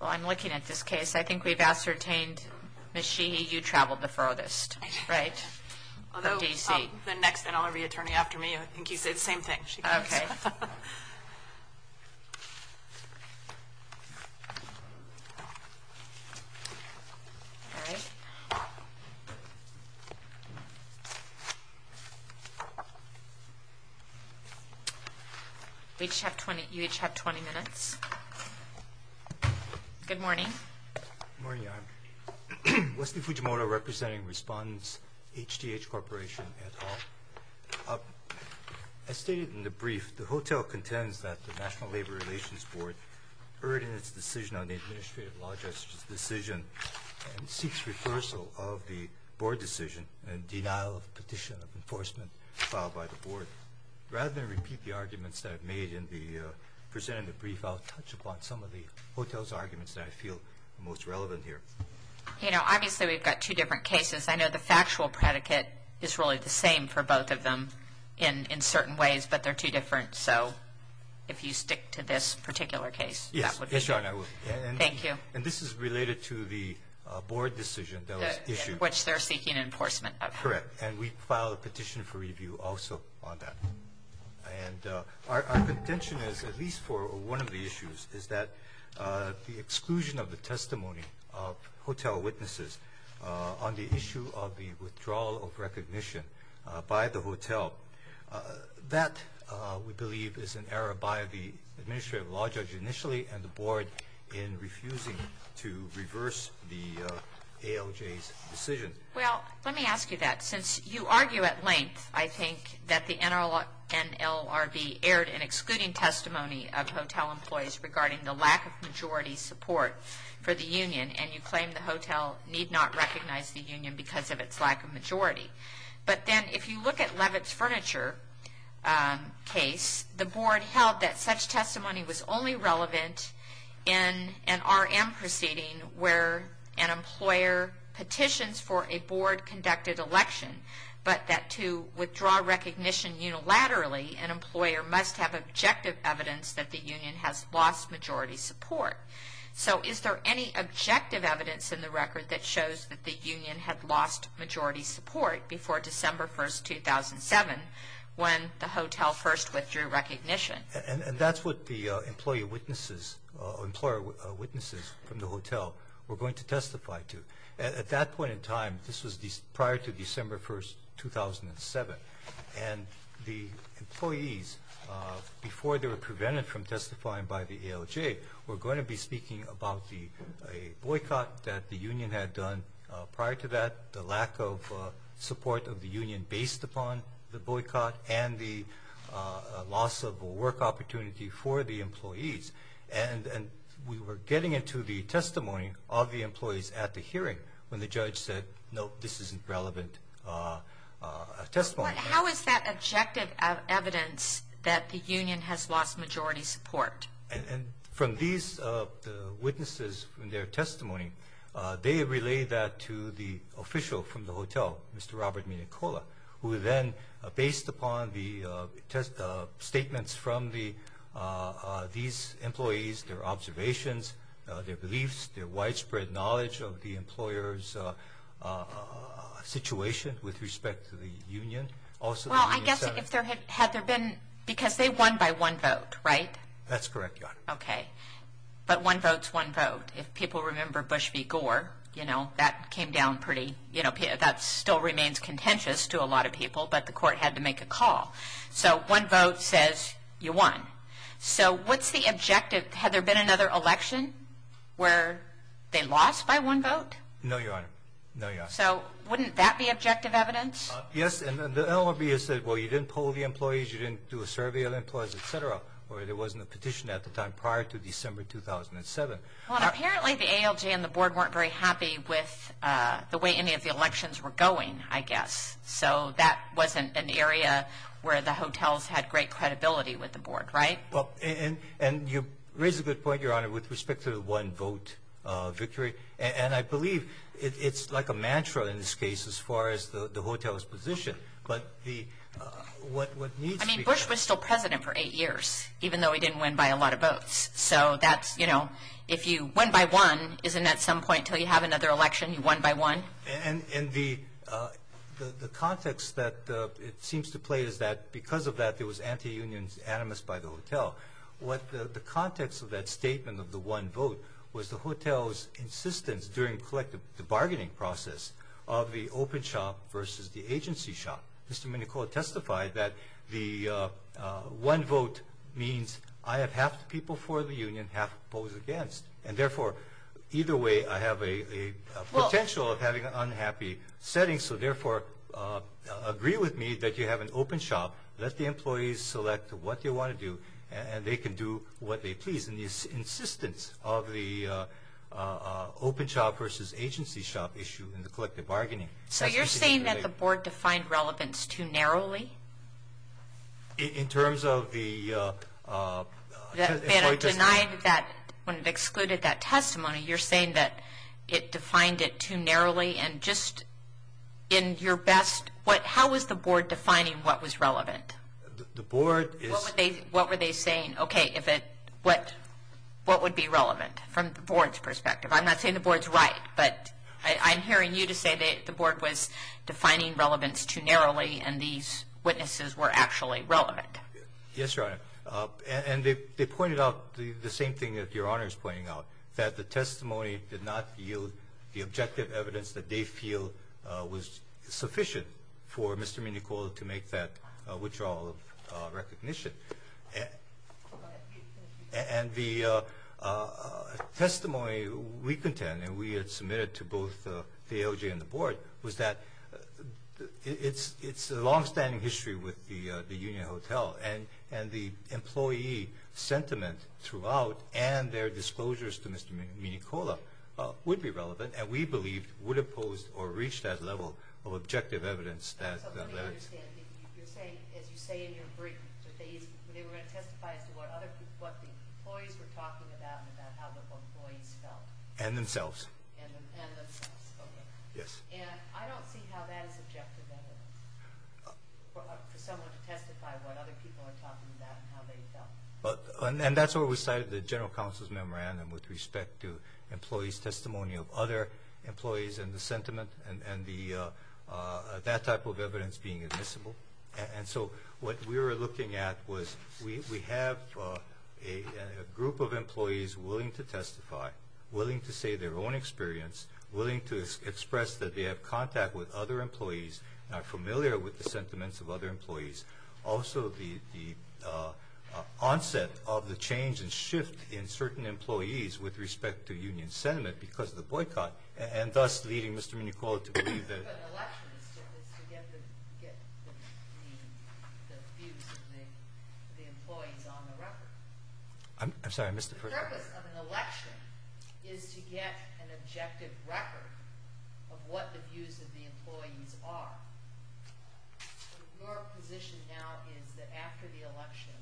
Well, I'm looking at this case. I think we've ascertained, Ms. Sheehy, you traveled the furthest, right, from D.C.? The next NLRB attorney after me, I think he said the same thing. Okay. You each have 20 minutes. Good morning. Good morning, Your Honor. Wesley Fujimoto, representing respondents, HTH Corporation, et al. As stated in the brief, the hotel contends that the National Labor Relations Board erred in its decision on the Administrative Law Justice Decision and seeks reversal of the board decision in denial of petition of enforcement filed by the board. I believe I'll touch upon some of the hotel's arguments that I feel are most relevant here. You know, obviously we've got two different cases. I know the factual predicate is really the same for both of them in certain ways, but they're two different. So if you stick to this particular case, that would be good. Yes, Your Honor, I will. Thank you. And this is related to the board decision that was issued. Which they're seeking enforcement of. Correct. And we filed a petition for review also on that. And our contention is, at least for one of the issues, is that the exclusion of the testimony of hotel witnesses on the issue of the withdrawal of recognition by the hotel. That, we believe, is an error by the Administrative Law Judge initially and the board in refusing to reverse the ALJ's decision. Well, let me ask you that. Since you argue at length, I think, that the NLRB aired an excluding testimony of hotel employees regarding the lack of majority support for the union, and you claim the hotel need not recognize the union because of its lack of majority. But then, if you look at Levitt's furniture case, the board held that such testimony was only relevant in an RM proceeding where an employer petitions for a board-conducted election, but that to withdraw recognition unilaterally, an employer must have objective evidence that the union has lost majority support. So, is there any objective evidence in the record that shows that the union had lost majority support before December 1, 2007, when the hotel first withdrew recognition? And that's what the employer witnesses from the hotel were going to testify to. At that point in time, this was prior to December 1, 2007, and the employees, before they were prevented from testifying by the ALJ, were going to be speaking about a boycott that the union had done. Prior to that, the lack of support of the union based upon the boycott and the loss of work opportunity for the employees. And we were getting into the testimony of the employees at the hearing when the judge said, no, this isn't relevant testimony. How is that objective evidence that the union has lost majority support? And from these witnesses, from their testimony, they relay that to the official from the hotel, Mr. Robert Minicola, who then, based upon the statements from these employees, their observations, their beliefs, their widespread knowledge of the employer's situation with respect to the union. Well, I guess if there had been, because they won by one vote, right? That's correct, yeah. Okay. But one vote's one vote. If people remember Bush v. Gore, you know, that came down pretty, you know, that still remains contentious to a lot of people, but the court had to make a call. So one vote says you won. So what's the objective? Had there been another election where they lost by one vote? No, Your Honor. No, Your Honor. So wouldn't that be objective evidence? Yes, and the LRB has said, well, you didn't poll the employees, you didn't do a survey of employees, et cetera, or there wasn't a petition at the time prior to December 2007. Well, apparently the ALJ and the board weren't very happy with the way any of the elections were going, I guess. So that wasn't an area where the hotels had great credibility with the board, right? Well, and you raise a good point, Your Honor, with respect to the one-vote victory, and I believe it's like a mantra in this case as far as the hotel's position. But what needs to be— I mean, Bush was still president for eight years, even though he didn't win by a lot of votes. So that's, you know, if you win by one, isn't at some point until you have another election, you win by one? And the context that it seems to play is that because of that, there was anti-union animus by the hotel. What the context of that statement of the one-vote was the hotel's insistence during the bargaining process of the open shop versus the agency shop. Mr. Minicola testified that the one-vote means I have half the people for the union, half the polls against. And, therefore, either way, I have a potential of having an unhappy setting. So, therefore, agree with me that you have an open shop. Let the employees select what they want to do, and they can do what they please. And the insistence of the open shop versus agency shop issue in the collective bargaining— So you're saying that the board defined relevance too narrowly? In terms of the— When it excluded that testimony, you're saying that it defined it too narrowly? And just in your best—how was the board defining what was relevant? The board is— What were they saying? Okay, if it—what would be relevant from the board's perspective? I'm not saying the board's right, but I'm hearing you to say that the board was defining relevance too narrowly, and these witnesses were actually relevant. Yes, Your Honor. And they pointed out the same thing that Your Honor is pointing out, that the testimony did not yield the objective evidence that they feel was sufficient for Mr. Minicola to make that withdrawal of recognition. And the testimony we contend, and we had submitted to both the AOJ and the board, was that it's a longstanding history with the Union Hotel, and the employee sentiment throughout and their disclosures to Mr. Minicola would be relevant, and we believe would have posed or reached that level of objective evidence that— So let me understand. You're saying, as you say in your brief, that they were going to testify as to what other people— what the employees were talking about and about how the employees felt. And themselves. And themselves. Okay. Yes. And I don't see how that is objective evidence for someone to testify what other people are talking about and how they felt. And that's where we cited the general counsel's memorandum with respect to employees' testimony of other employees and the sentiment and that type of evidence being admissible. And so what we were looking at was we have a group of employees willing to testify, willing to say their own experience, willing to express that they have contact with other employees and are familiar with the sentiments of other employees. Also, the onset of the change and shift in certain employees with respect to union sentiment because of the boycott, and thus leading Mr. Minicola to believe that— But an election is to get the views of the employees on the record. I'm sorry, I missed the first part. The purpose of an election is to get an objective record of what the views of the employees are. Your position now is that after the election,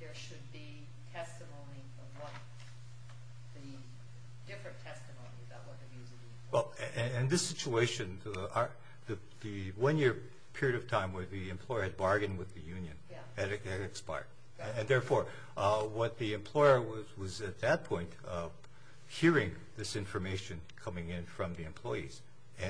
there should be testimony of what? The different testimony about what the views of the employees are. Well, in this situation, the one-year period of time where the employer had bargained with the union had expired. And therefore, what the employer was at that point hearing this information coming in from the employees.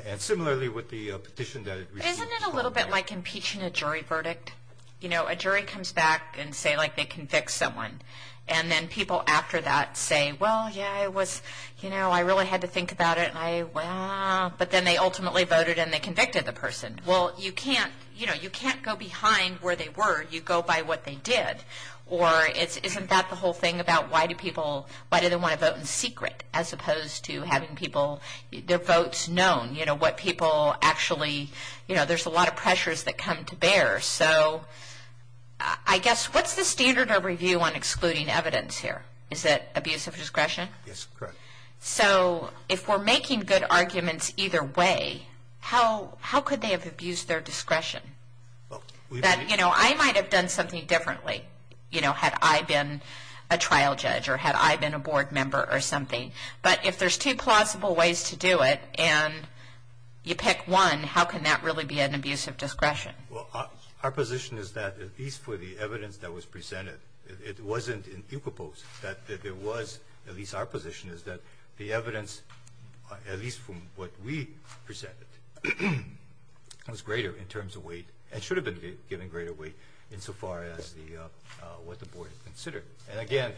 And similarly, with the petition that it received— Isn't it a little bit like impeaching a jury verdict? You know, a jury comes back and say, like, they convict someone. And then people after that say, well, yeah, I was—you know, I really had to think about it, and I— well, but then they ultimately voted and they convicted the person. Well, you can't—you know, you can't go behind where they were. You go by what they did. Or isn't that the whole thing about why do people— why do they want to vote in secret as opposed to having people—their votes known? You know, what people actually—you know, there's a lot of pressures that come to bear. So I guess, what's the standard of review on excluding evidence here? Is it abuse of discretion? Yes, correct. So if we're making good arguments either way, how could they have abused their discretion? That, you know, I might have done something differently, you know, had I been a trial judge or had I been a board member or something. But if there's two plausible ways to do it and you pick one, how can that really be an abuse of discretion? Well, our position is that at least for the evidence that was presented, it wasn't in equipos, that there was—at least our position is that the evidence, at least from what we presented, was greater in terms of weight and should have been given greater weight insofar as the—what the board had considered. And again,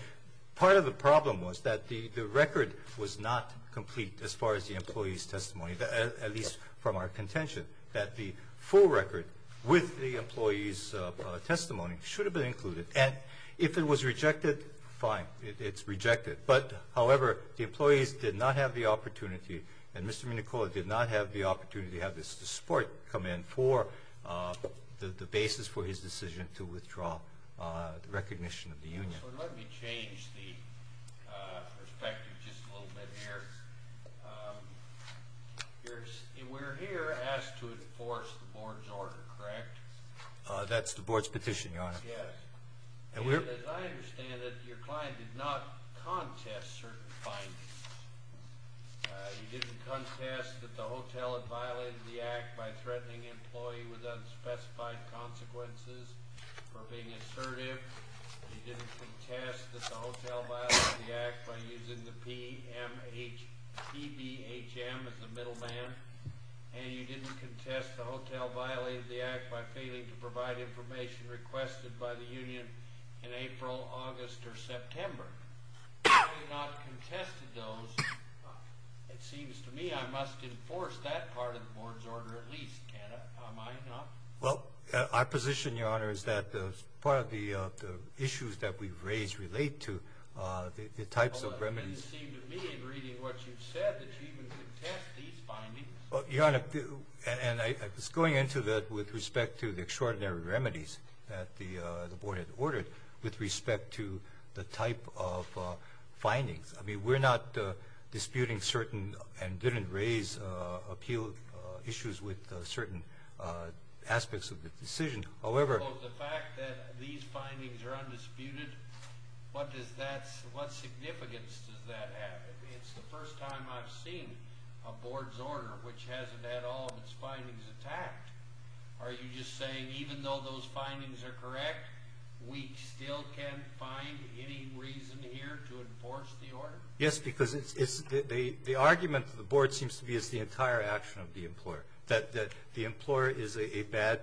part of the problem was that the record was not complete as far as the employee's testimony, at least from our contention, that the full record with the employee's testimony should have been included. And if it was rejected, fine. It's rejected. But, however, the employees did not have the opportunity, and Mr. Minicola did not have the opportunity to have the support come in for the basis for his decision to withdraw recognition of the union. So let me change the perspective just a little bit here. We're here asked to enforce the board's order, correct? That's the board's petition, Your Honor. Yes. And as I understand it, your client did not contest certain findings. You didn't contest that the hotel had violated the act by threatening an employee with unspecified consequences for being assertive. You didn't contest that the hotel violated the act by using the PBHM as a middleman. And you didn't contest the hotel violated the act by failing to provide information requested by the union in April, August, or September. You did not contest those. It seems to me I must enforce that part of the board's order at least, cannot I not? Well, our position, Your Honor, is that part of the issues that we've raised relate to the types of remedies. It doesn't seem to me, in reading what you've said, that you even contest these findings. Well, Your Honor, and I was going into that with respect to the extraordinary remedies that the board had ordered with respect to the type of findings. I mean, we're not disputing certain and didn't raise appeal issues with certain aspects of the decision. The fact that these findings are undisputed, what significance does that have? It's the first time I've seen a board's order which hasn't had all of its findings attacked. Are you just saying even though those findings are correct, we still can't find any reason here to enforce the order? Yes, because the argument of the board seems to be it's the entire action of the employer, that the employer is a bad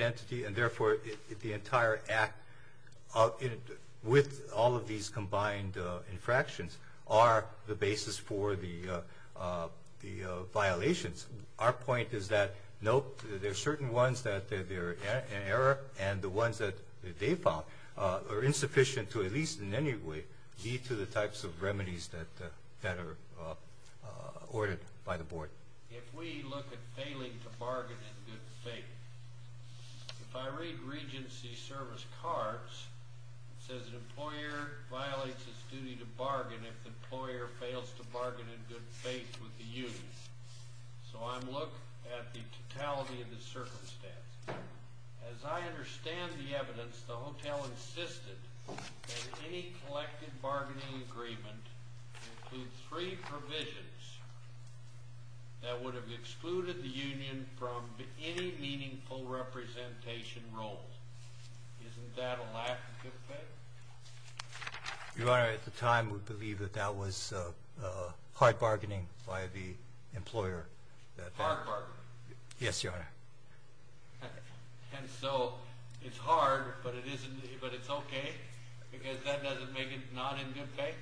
entity and, therefore, the entire act with all of these combined infractions are the basis for the violations. Our point is that, nope, there are certain ones that they're in error, and the ones that they found are insufficient to at least in any way lead to the types of remedies that are ordered by the board. If we look at failing to bargain in good faith, if I read Regency Service Cards, it says an employer violates its duty to bargain if the employer fails to bargain in good faith with the union. So I'm looking at the totality of the circumstances. As I understand the evidence, the hotel insisted that any collective bargaining agreement include three provisions that would have excluded the union from any meaningful representation role. Isn't that a lack of good faith? Your Honor, at the time, we believe that that was hard bargaining by the employer. Hard bargaining? Yes, Your Honor. And so it's hard, but it's okay because that doesn't make it not in good faith?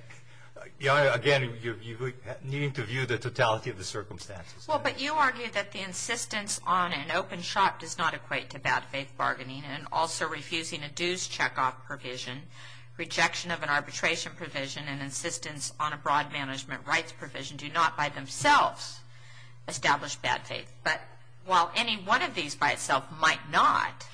Your Honor, again, you need to view the totality of the circumstances. Well, but you argue that the insistence on an open shop does not equate to bad faith bargaining and also refusing a dues checkoff provision, rejection of an arbitration provision, and insistence on a broad management rights provision do not by themselves establish bad faith. But while any one of these by itself might not,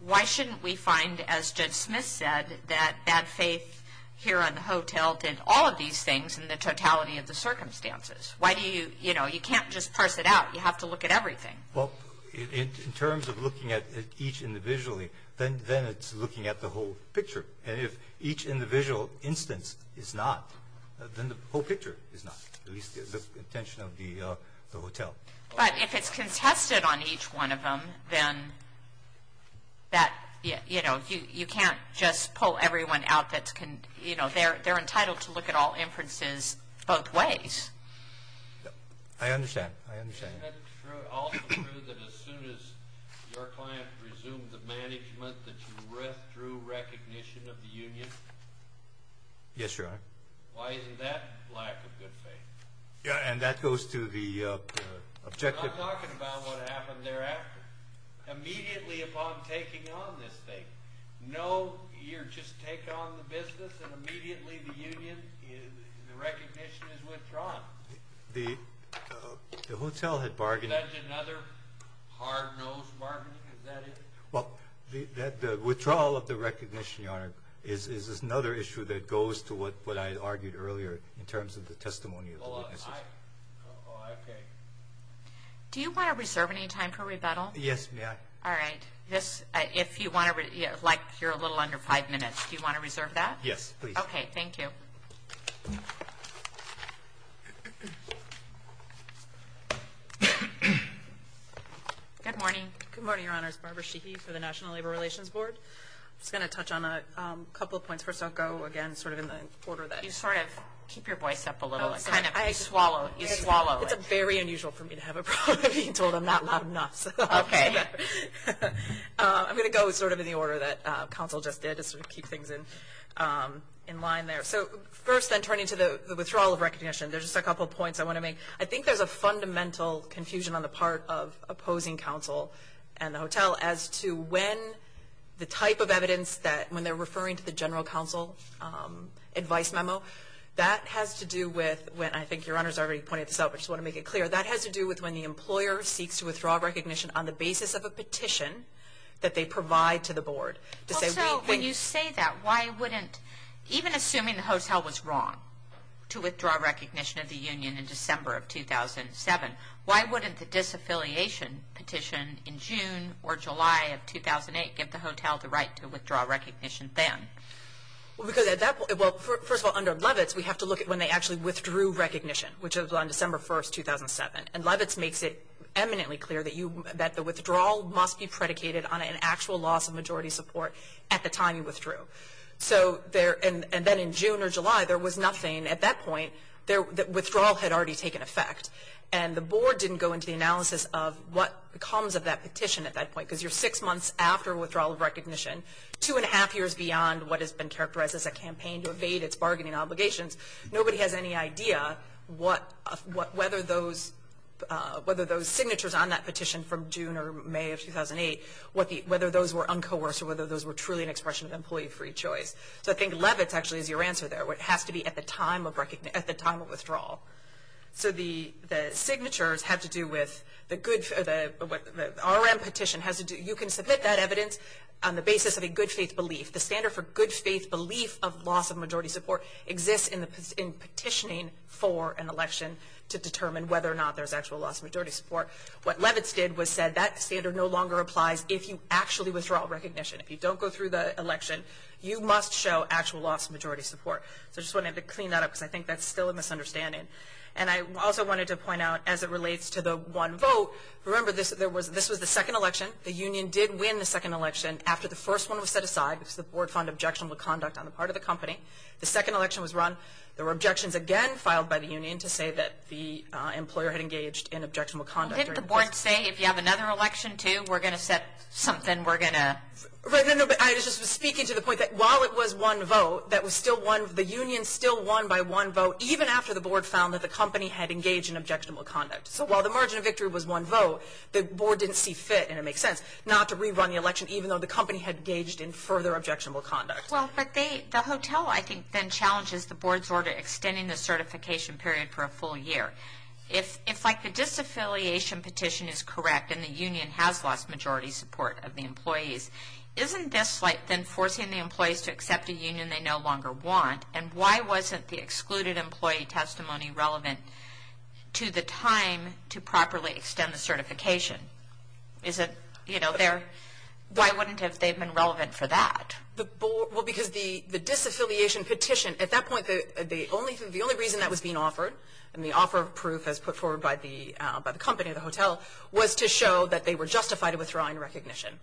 why shouldn't we find, as Judge Smith said, that bad faith here on the hotel did all of these things in the totality of the circumstances? Why do you, you know, you can't just parse it out. You have to look at everything. Well, in terms of looking at each individually, then it's looking at the whole picture. And if each individual instance is not, then the whole picture is not, at least the intention of the hotel. But if it's contested on each one of them, then that, you know, you can't just pull everyone out that's, you know, they're entitled to look at all inferences both ways. I understand. Isn't it also true that as soon as your client resumed the management that you withdrew recognition of the union? Yes, Your Honor. Why isn't that lack of good faith? Yeah, and that goes to the objective. I'm not talking about what happened thereafter. Immediately upon taking on this thing, no, you just take on the business, and immediately the union, the recognition is withdrawn. Now, the hotel had bargained. Is that another hard-nosed bargaining? Is that it? Well, the withdrawal of the recognition, Your Honor, is another issue that goes to what I argued earlier in terms of the testimony of the witnesses. Oh, okay. Do you want to reserve any time for rebuttal? Yes, may I? All right. If you want to, like you're a little under five minutes, do you want to reserve that? Yes, please. Okay, thank you. Good morning. Good morning, Your Honors. Barbara Sheehy for the National Labor Relations Board. I'm just going to touch on a couple of points. First, I'll go, again, sort of in the order that. You sort of keep your voice up a little. You swallow it. It's very unusual for me to have a problem being told I'm not loud enough. Okay. I'm going to go sort of in the order that counsel just did to sort of keep things in line there. So first then turning to the withdrawal of recognition, there's just a couple of points I want to make. I think there's a fundamental confusion on the part of opposing counsel and the hotel as to when the type of evidence that when they're referring to the general counsel advice memo, that has to do with when, I think Your Honors already pointed this out, but I just want to make it clear, that has to do with when the employer seeks to withdraw recognition on the basis of a petition that they provide to the board. When you say that, why wouldn't, even assuming the hotel was wrong to withdraw recognition of the union in December of 2007, why wouldn't the disaffiliation petition in June or July of 2008 give the hotel the right to withdraw recognition then? Because at that point, well, first of all, under Levitz, we have to look at when they actually withdrew recognition, which was on December 1, 2007. And Levitz makes it eminently clear that the withdrawal must be predicated on an actual loss of majority support at the time you withdrew. And then in June or July, there was nothing at that point that withdrawal had already taken effect. And the board didn't go into the analysis of what comes of that petition at that point, because you're six months after withdrawal of recognition, two and a half years beyond what has been characterized as a campaign to evade its bargaining obligations. Nobody has any idea whether those signatures on that petition from June or May of 2008, whether those were uncoerced or whether those were truly an expression of employee free choice. So I think Levitz actually is your answer there. It has to be at the time of withdrawal. So the signatures have to do with the good, the RM petition has to do, you can submit that evidence on the basis of a good faith belief. The standard for good faith belief of loss of majority support exists in petitioning for an election to determine whether or not there's actual loss of majority support. What Levitz did was said that standard no longer applies if you actually withdraw recognition. If you don't go through the election, you must show actual loss of majority support. So I just wanted to clean that up, because I think that's still a misunderstanding. And I also wanted to point out, as it relates to the one vote, remember this was the second election. The union did win the second election after the first one was set aside, because the board found objectionable conduct on the part of the company. The second election was run. There were objections again filed by the union to say that the employer had engaged in objectionable conduct. Didn't the board say if you have another election too, we're going to set something, we're going to? No, but I was just speaking to the point that while it was one vote, that was still one, the union still won by one vote, even after the board found that the company had engaged in objectionable conduct. So while the margin of victory was one vote, the board didn't see fit, and it makes sense, not to rerun the election even though the company had engaged in further objectionable conduct. Well, but the hotel, I think, then challenges the board's order extending the certification period for a full year. If, like, the disaffiliation petition is correct and the union has lost majority support of the employees, isn't this, like, then forcing the employees to accept a union they no longer want? And why wasn't the excluded employee testimony relevant to the time to properly extend the certification? Is it, you know, there? Why wouldn't they have been relevant for that? Well, because the disaffiliation petition, at that point, the only reason that was being offered, and the offer of proof as put forward by the company, the hotel, was to show that they were justified in withdrawing recognition.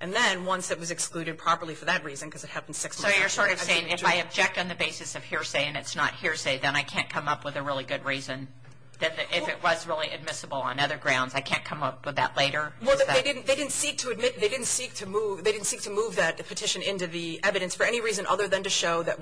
And then once it was excluded properly for that reason, because it happened six months after that. So you're sort of saying if I object on the basis of hearsay and it's not hearsay, then I can't come up with a really good reason that if it was really admissible on other grounds, I can't come up with that later? Well, they didn't seek to move that petition into the evidence for any reason other than to show that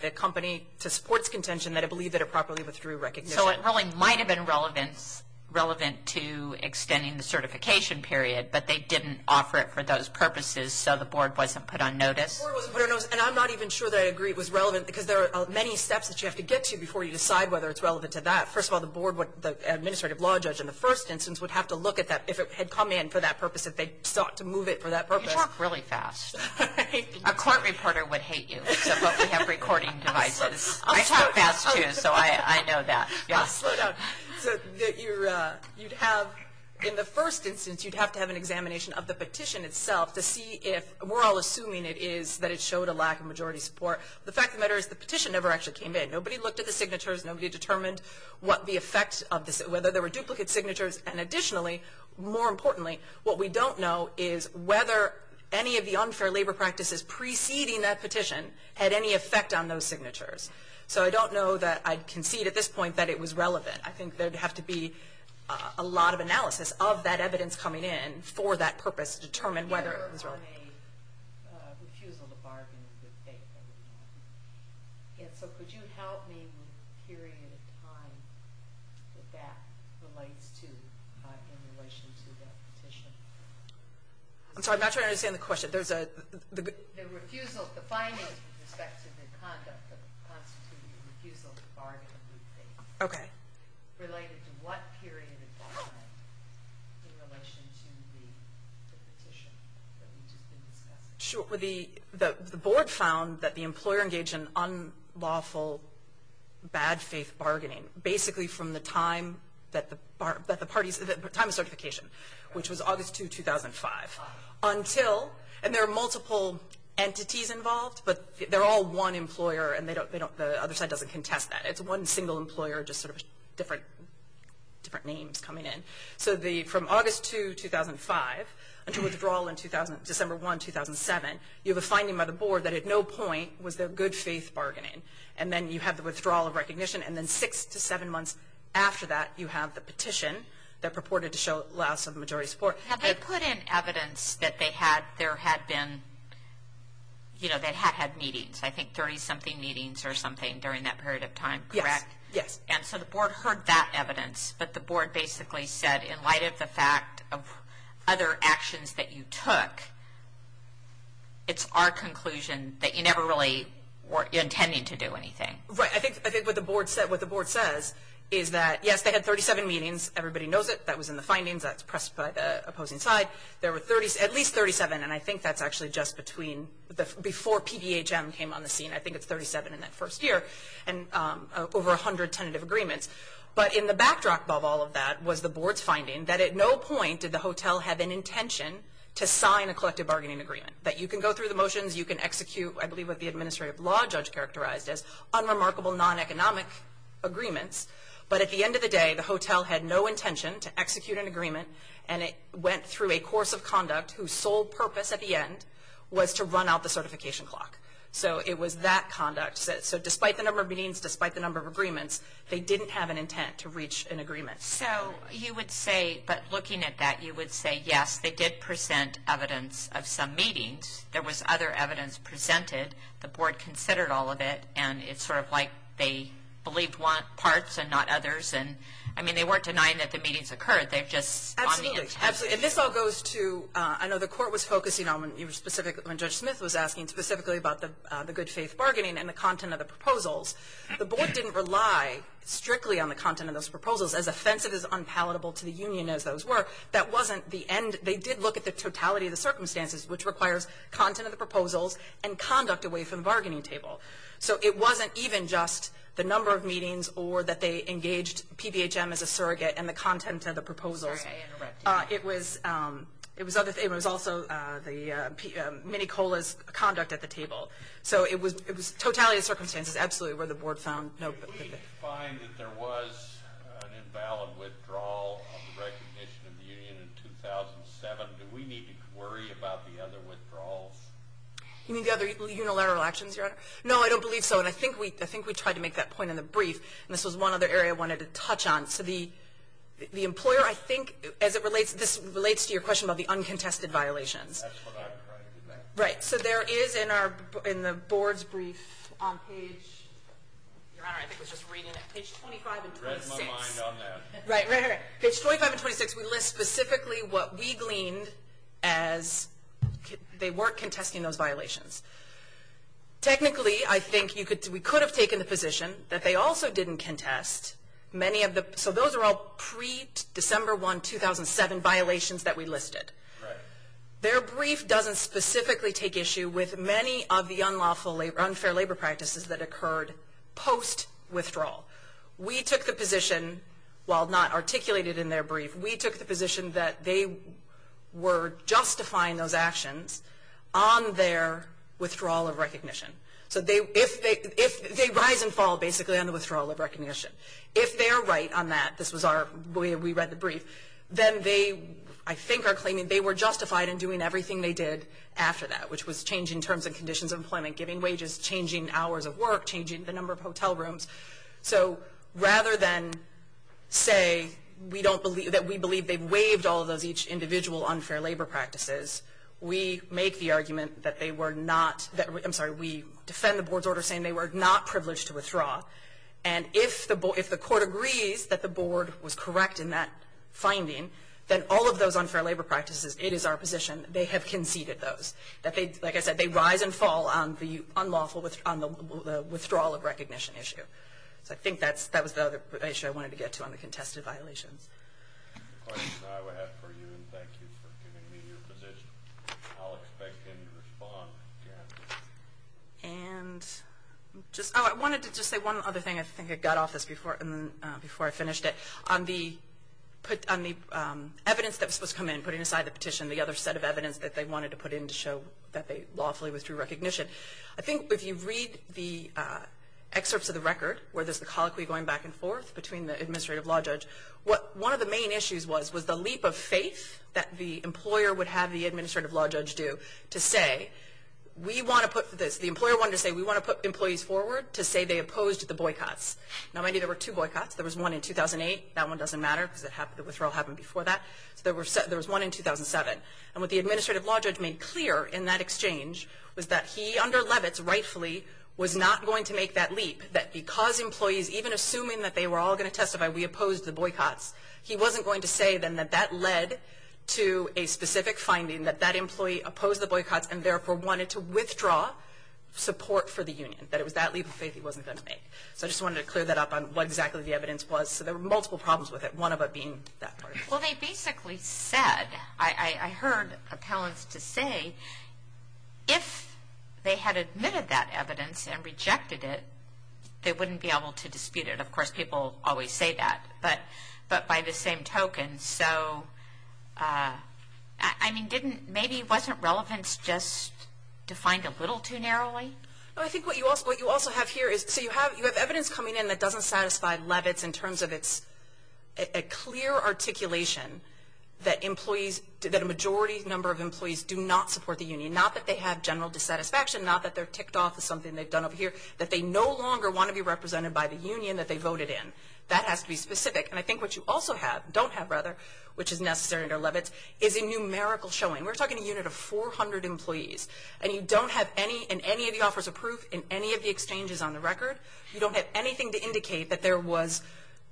the company, to support its contention, that it believed that it properly withdrew recognition. So it really might have been relevant to extending the certification period, but they didn't offer it for those purposes so the board wasn't put on notice? The board wasn't put on notice. And I'm not even sure that I agree it was relevant, because there are many steps that you have to get to before you decide whether it's relevant to that. First of all, the board would, the administrative law judge in the first instance, would have to look at that if it had come in for that purpose, if they sought to move it for that purpose. You talk really fast. A court reporter would hate you, except that we have recording devices. I talk fast, too, so I know that. Slow down. So you'd have, in the first instance, you'd have to have an examination of the petition itself to see if, we're all assuming it is, that it showed a lack of majority support. The fact of the matter is the petition never actually came in. Nobody looked at the signatures. Nobody determined what the effect of this, whether there were duplicate signatures. And additionally, more importantly, what we don't know is whether any of the unfair labor practices preceding that petition had any effect on those signatures. So I don't know that I concede at this point that it was relevant. I think there would have to be a lot of analysis of that evidence coming in for that purpose to determine whether it was relevant. I have a refusal to bargain with faith. And so could you help me with the period of time that that relates to in relation to that petition? I'm sorry, I'm not trying to understand the question. The refusal, the findings with respect to the conduct that constituted a refusal to bargain with faith. Okay. Related to what period of time in relation to the petition that we've just been discussing? Sure. The board found that the employer engaged in unlawful, bad faith bargaining, basically from the time of certification, which was August 2, 2005, until, and there are multiple entities involved, but they're all one employer, and the other side doesn't contest that. It's one single employer, just sort of different names coming in. So from August 2, 2005 until withdrawal in December 1, 2007, you have a finding by the board that at no point was there good faith bargaining. And then you have the withdrawal of recognition, and then six to seven months after that, you have the petition that purported to show less of a majority support. Have they put in evidence that there had been, you know, that had meetings, I think 30-something meetings or something during that period of time, correct? Yes, yes. And so the board heard that evidence, but the board basically said in light of the fact of other actions that you took, it's our conclusion that you never really were intending to do anything. Right. I think what the board says is that, yes, they had 37 meetings. Everybody knows it. That was in the findings. That's pressed by the opposing side. There were at least 37, and I think that's actually just between before PBHM came on the scene. I think it's 37 in that first year, and over 100 tentative agreements. But in the backdrop of all of that was the board's finding that at no point did the hotel have an intention to sign a collective bargaining agreement, that you can go through the motions, you can execute I believe what the administrative law judge characterized as unremarkable non-economic agreements. But at the end of the day, the hotel had no intention to execute an agreement, and it went through a course of conduct whose sole purpose at the end was to run out the certification clock. So it was that conduct. So despite the number of meetings, despite the number of agreements, they didn't have an intent to reach an agreement. So you would say, but looking at that, you would say, yes, they did present evidence of some meetings. There was other evidence presented. The board considered all of it, and it's sort of like they believed parts and not others. I mean, they weren't denying that the meetings occurred. They've just gone in. Absolutely. And this all goes to, I know the court was focusing on when you were specific, when Judge Smith was asking specifically about the good faith bargaining and the content of the proposals. The board didn't rely strictly on the content of those proposals, as offensive as unpalatable to the union as those were. That wasn't the end. They did look at the totality of the circumstances, which requires content of the proposals and conduct away from the bargaining table. So it wasn't even just the number of meetings or that they engaged PBHM as a surrogate and the content of the proposals. Sorry, I interrupted you. It was also the mini-COLAs conduct at the table. So it was totality of circumstances, absolutely, where the board found. Did we find that there was an invalid withdrawal of the recognition of the union in 2007? Do we need to worry about the other withdrawals? You mean the other unilateral actions, Your Honor? No, I don't believe so. And I think we tried to make that point in the brief. And this was one other area I wanted to touch on. So the employer, I think, as this relates to your question about the uncontested violations. That's what I'm trying to do next. Right. So there is in the board's brief on page 25 and 26. I read my mind on that. Right, right, right. Page 25 and 26, we list specifically what we gleaned as they weren't contesting those violations. Technically, I think we could have taken the position that they also didn't contest many of the, so those are all pre-December 1, 2007 violations that we listed. Right. Their brief doesn't specifically take issue with many of the unfair labor practices that occurred post-withdrawal. We took the position, while not articulated in their brief, we took the position that they were justifying those actions on their withdrawal of recognition. So they rise and fall, basically, on the withdrawal of recognition. If they are right on that, this was our, we read the brief, then they, I think, are claiming they were justified in doing everything they did after that, which was changing terms and conditions of employment, giving wages, changing hours of work, changing the number of hotel rooms. So rather than say that we believe they waived all of those each individual unfair labor practices, we make the argument that they were not, I'm sorry, we defend the board's order saying they were not privileged to withdraw. And if the court agrees that the board was correct in that finding, then all of those unfair labor practices, it is our position they have conceded those. Like I said, they rise and fall on the unlawful, on the withdrawal of recognition issue. So I think that was the other issue I wanted to get to on the contested violations. The questions I would have for you, and thank you for giving me your position. I'll expect any response. And I wanted to just say one other thing. I think I got off this before I finished it. On the evidence that was supposed to come in, putting aside the petition, the other set of evidence that they wanted to put in to show that they lawfully withdrew recognition, I think if you read the excerpts of the record where there's the colloquy going back and forth between the administrative law judge, one of the main issues was the leap of faith that the employer would have the administrative law judge do to say, we want to put this, the employer wanted to say we want to put employees forward to say they opposed the boycotts. Now, there were two boycotts. There was one in 2008. That one doesn't matter because the withdrawal happened before that. So there was one in 2007. And what the administrative law judge made clear in that exchange was that he, under Levitz, rightfully, was not going to make that leap, that because employees, even assuming that they were all going to testify we opposed the boycotts, he wasn't going to say then that that led to a specific finding that that employee opposed the boycotts and therefore wanted to withdraw support for the union, that it was that leap of faith he wasn't going to make. So I just wanted to clear that up on what exactly the evidence was. So there were multiple problems with it, one of them being that part of it. Well, they basically said, I heard appellants to say, if they had admitted that evidence and rejected it, they wouldn't be able to dispute it. Of course, people always say that, but by the same token. So, I mean, maybe wasn't relevance just defined a little too narrowly? I think what you also have here is, so you have evidence coming in that doesn't satisfy Levitz in terms of it's a clear articulation that a majority number of employees do not support the union, not that they have general dissatisfaction, not that they're ticked off of something they've done up here, that they no longer want to be represented by the union that they voted in. That has to be specific. And I think what you also have, don't have rather, which is necessary under Levitz, is a numerical showing. We're talking a unit of 400 employees, and you don't have any in any of the offers of proof in any of the exchanges on the record. You don't have anything to indicate that there was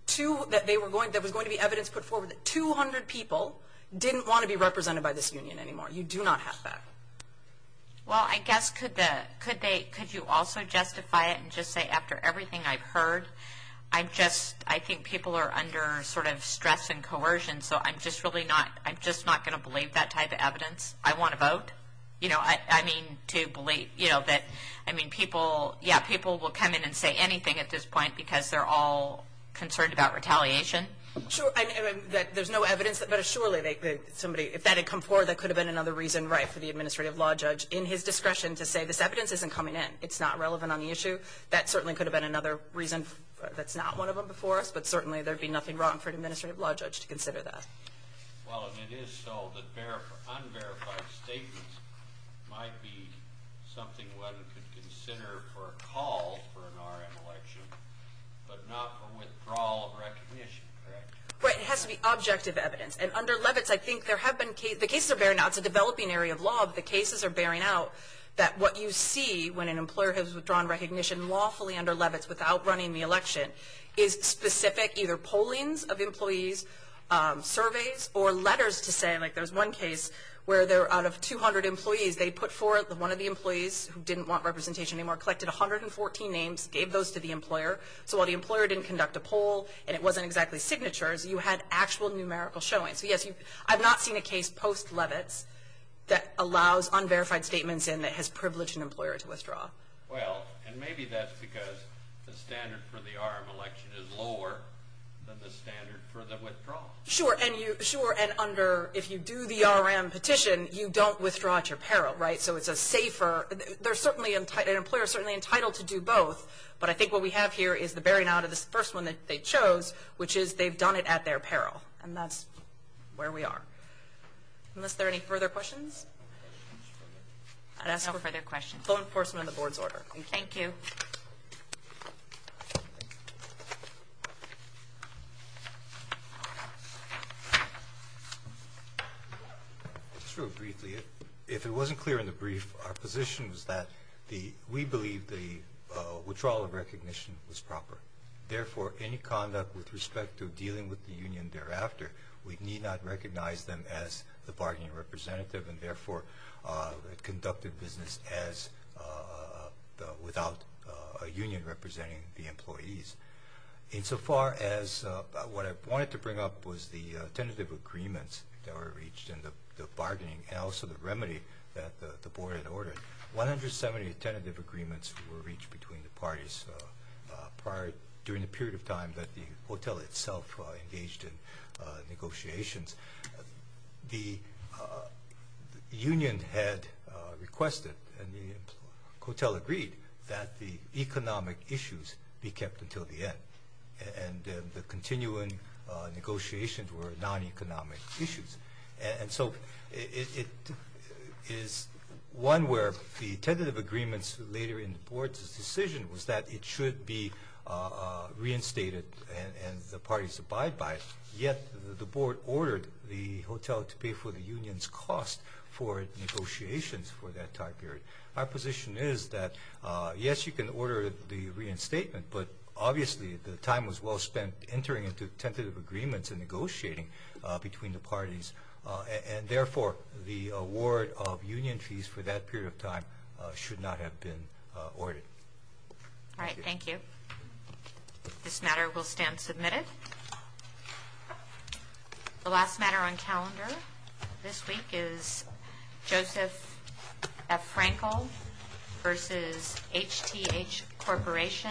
going to be evidence put forward that 200 people didn't want to be represented by this union anymore. You do not have that. Well, I guess could you also justify it and just say, after everything I've heard, I think people are under sort of stress and coercion, so I'm just not going to believe that type of evidence. I want to vote. You know, I mean, to believe, you know, that, I mean, people, yeah, people will come in and say anything at this point because they're all concerned about retaliation. Sure, I mean, there's no evidence, but surely somebody, if that had come forward, that could have been another reason, right, for the administrative law judge, in his discretion, to say this evidence isn't coming in, it's not relevant on the issue. That certainly could have been another reason that's not one of them before us, but certainly there'd be nothing wrong for an administrative law judge to consider that. Well, if it is so, then unverified statements might be something one could consider for a call for an R.M. election, but not for withdrawal of recognition, correct? Right, it has to be objective evidence, and under Levitz, I think there have been cases, the cases are bearing out, it's a developing area of law, but the cases are bearing out that what you see when an employer has withdrawn recognition lawfully under Levitz without running the election is specific either pollings of employees, surveys, or letters to say, like there was one case where out of 200 employees, they put forward, one of the employees who didn't want representation anymore, collected 114 names, gave those to the employer, so while the employer didn't conduct a poll, and it wasn't exactly signatures, you had actual numerical showing. So yes, I've not seen a case post-Levitz that allows unverified statements in that has privileged an employer to withdraw. Well, and maybe that's because the standard for the R.M. election is lower than the standard for the withdrawal. Sure, and under, if you do the R.M. petition, you don't withdraw at your peril, right? So it's a safer, they're certainly, an employer is certainly entitled to do both, but I think what we have here is the bearing out of this first one that they chose, which is they've done it at their peril, and that's where we are. Unless there are any further questions? No further questions. Full enforcement of the board's order. Thank you. Just real briefly, if it wasn't clear in the brief, our position is that we believe the withdrawal of recognition was proper. Therefore, any conduct with respect to dealing with the union thereafter, we need not recognize them as the bargaining representative, and therefore conducted business without a union representing the employees. Insofar as what I wanted to bring up was the tentative agreements that were reached and the bargaining and also the remedy that the board had ordered. One hundred seventy tentative agreements were reached between the parties during the period of time that the COTEL itself engaged in negotiations. The union had requested and COTEL agreed that the economic issues be kept until the end, and the continuing negotiations were non-economic issues. And so it is one where the tentative agreements later in the board's decision was that it should be reinstated and the parties abide by it, yet the board ordered the COTEL to pay for the union's cost for negotiations for that time period. Our position is that, yes, you can order the reinstatement, but obviously the time was well spent entering into tentative agreements and negotiating between the parties, and therefore the award of union fees for that period of time should not have been ordered. All right, thank you. This matter will stand submitted. The last matter on calendar this week is Joseph F. Frankel v. HTH Corporation, 11-18042.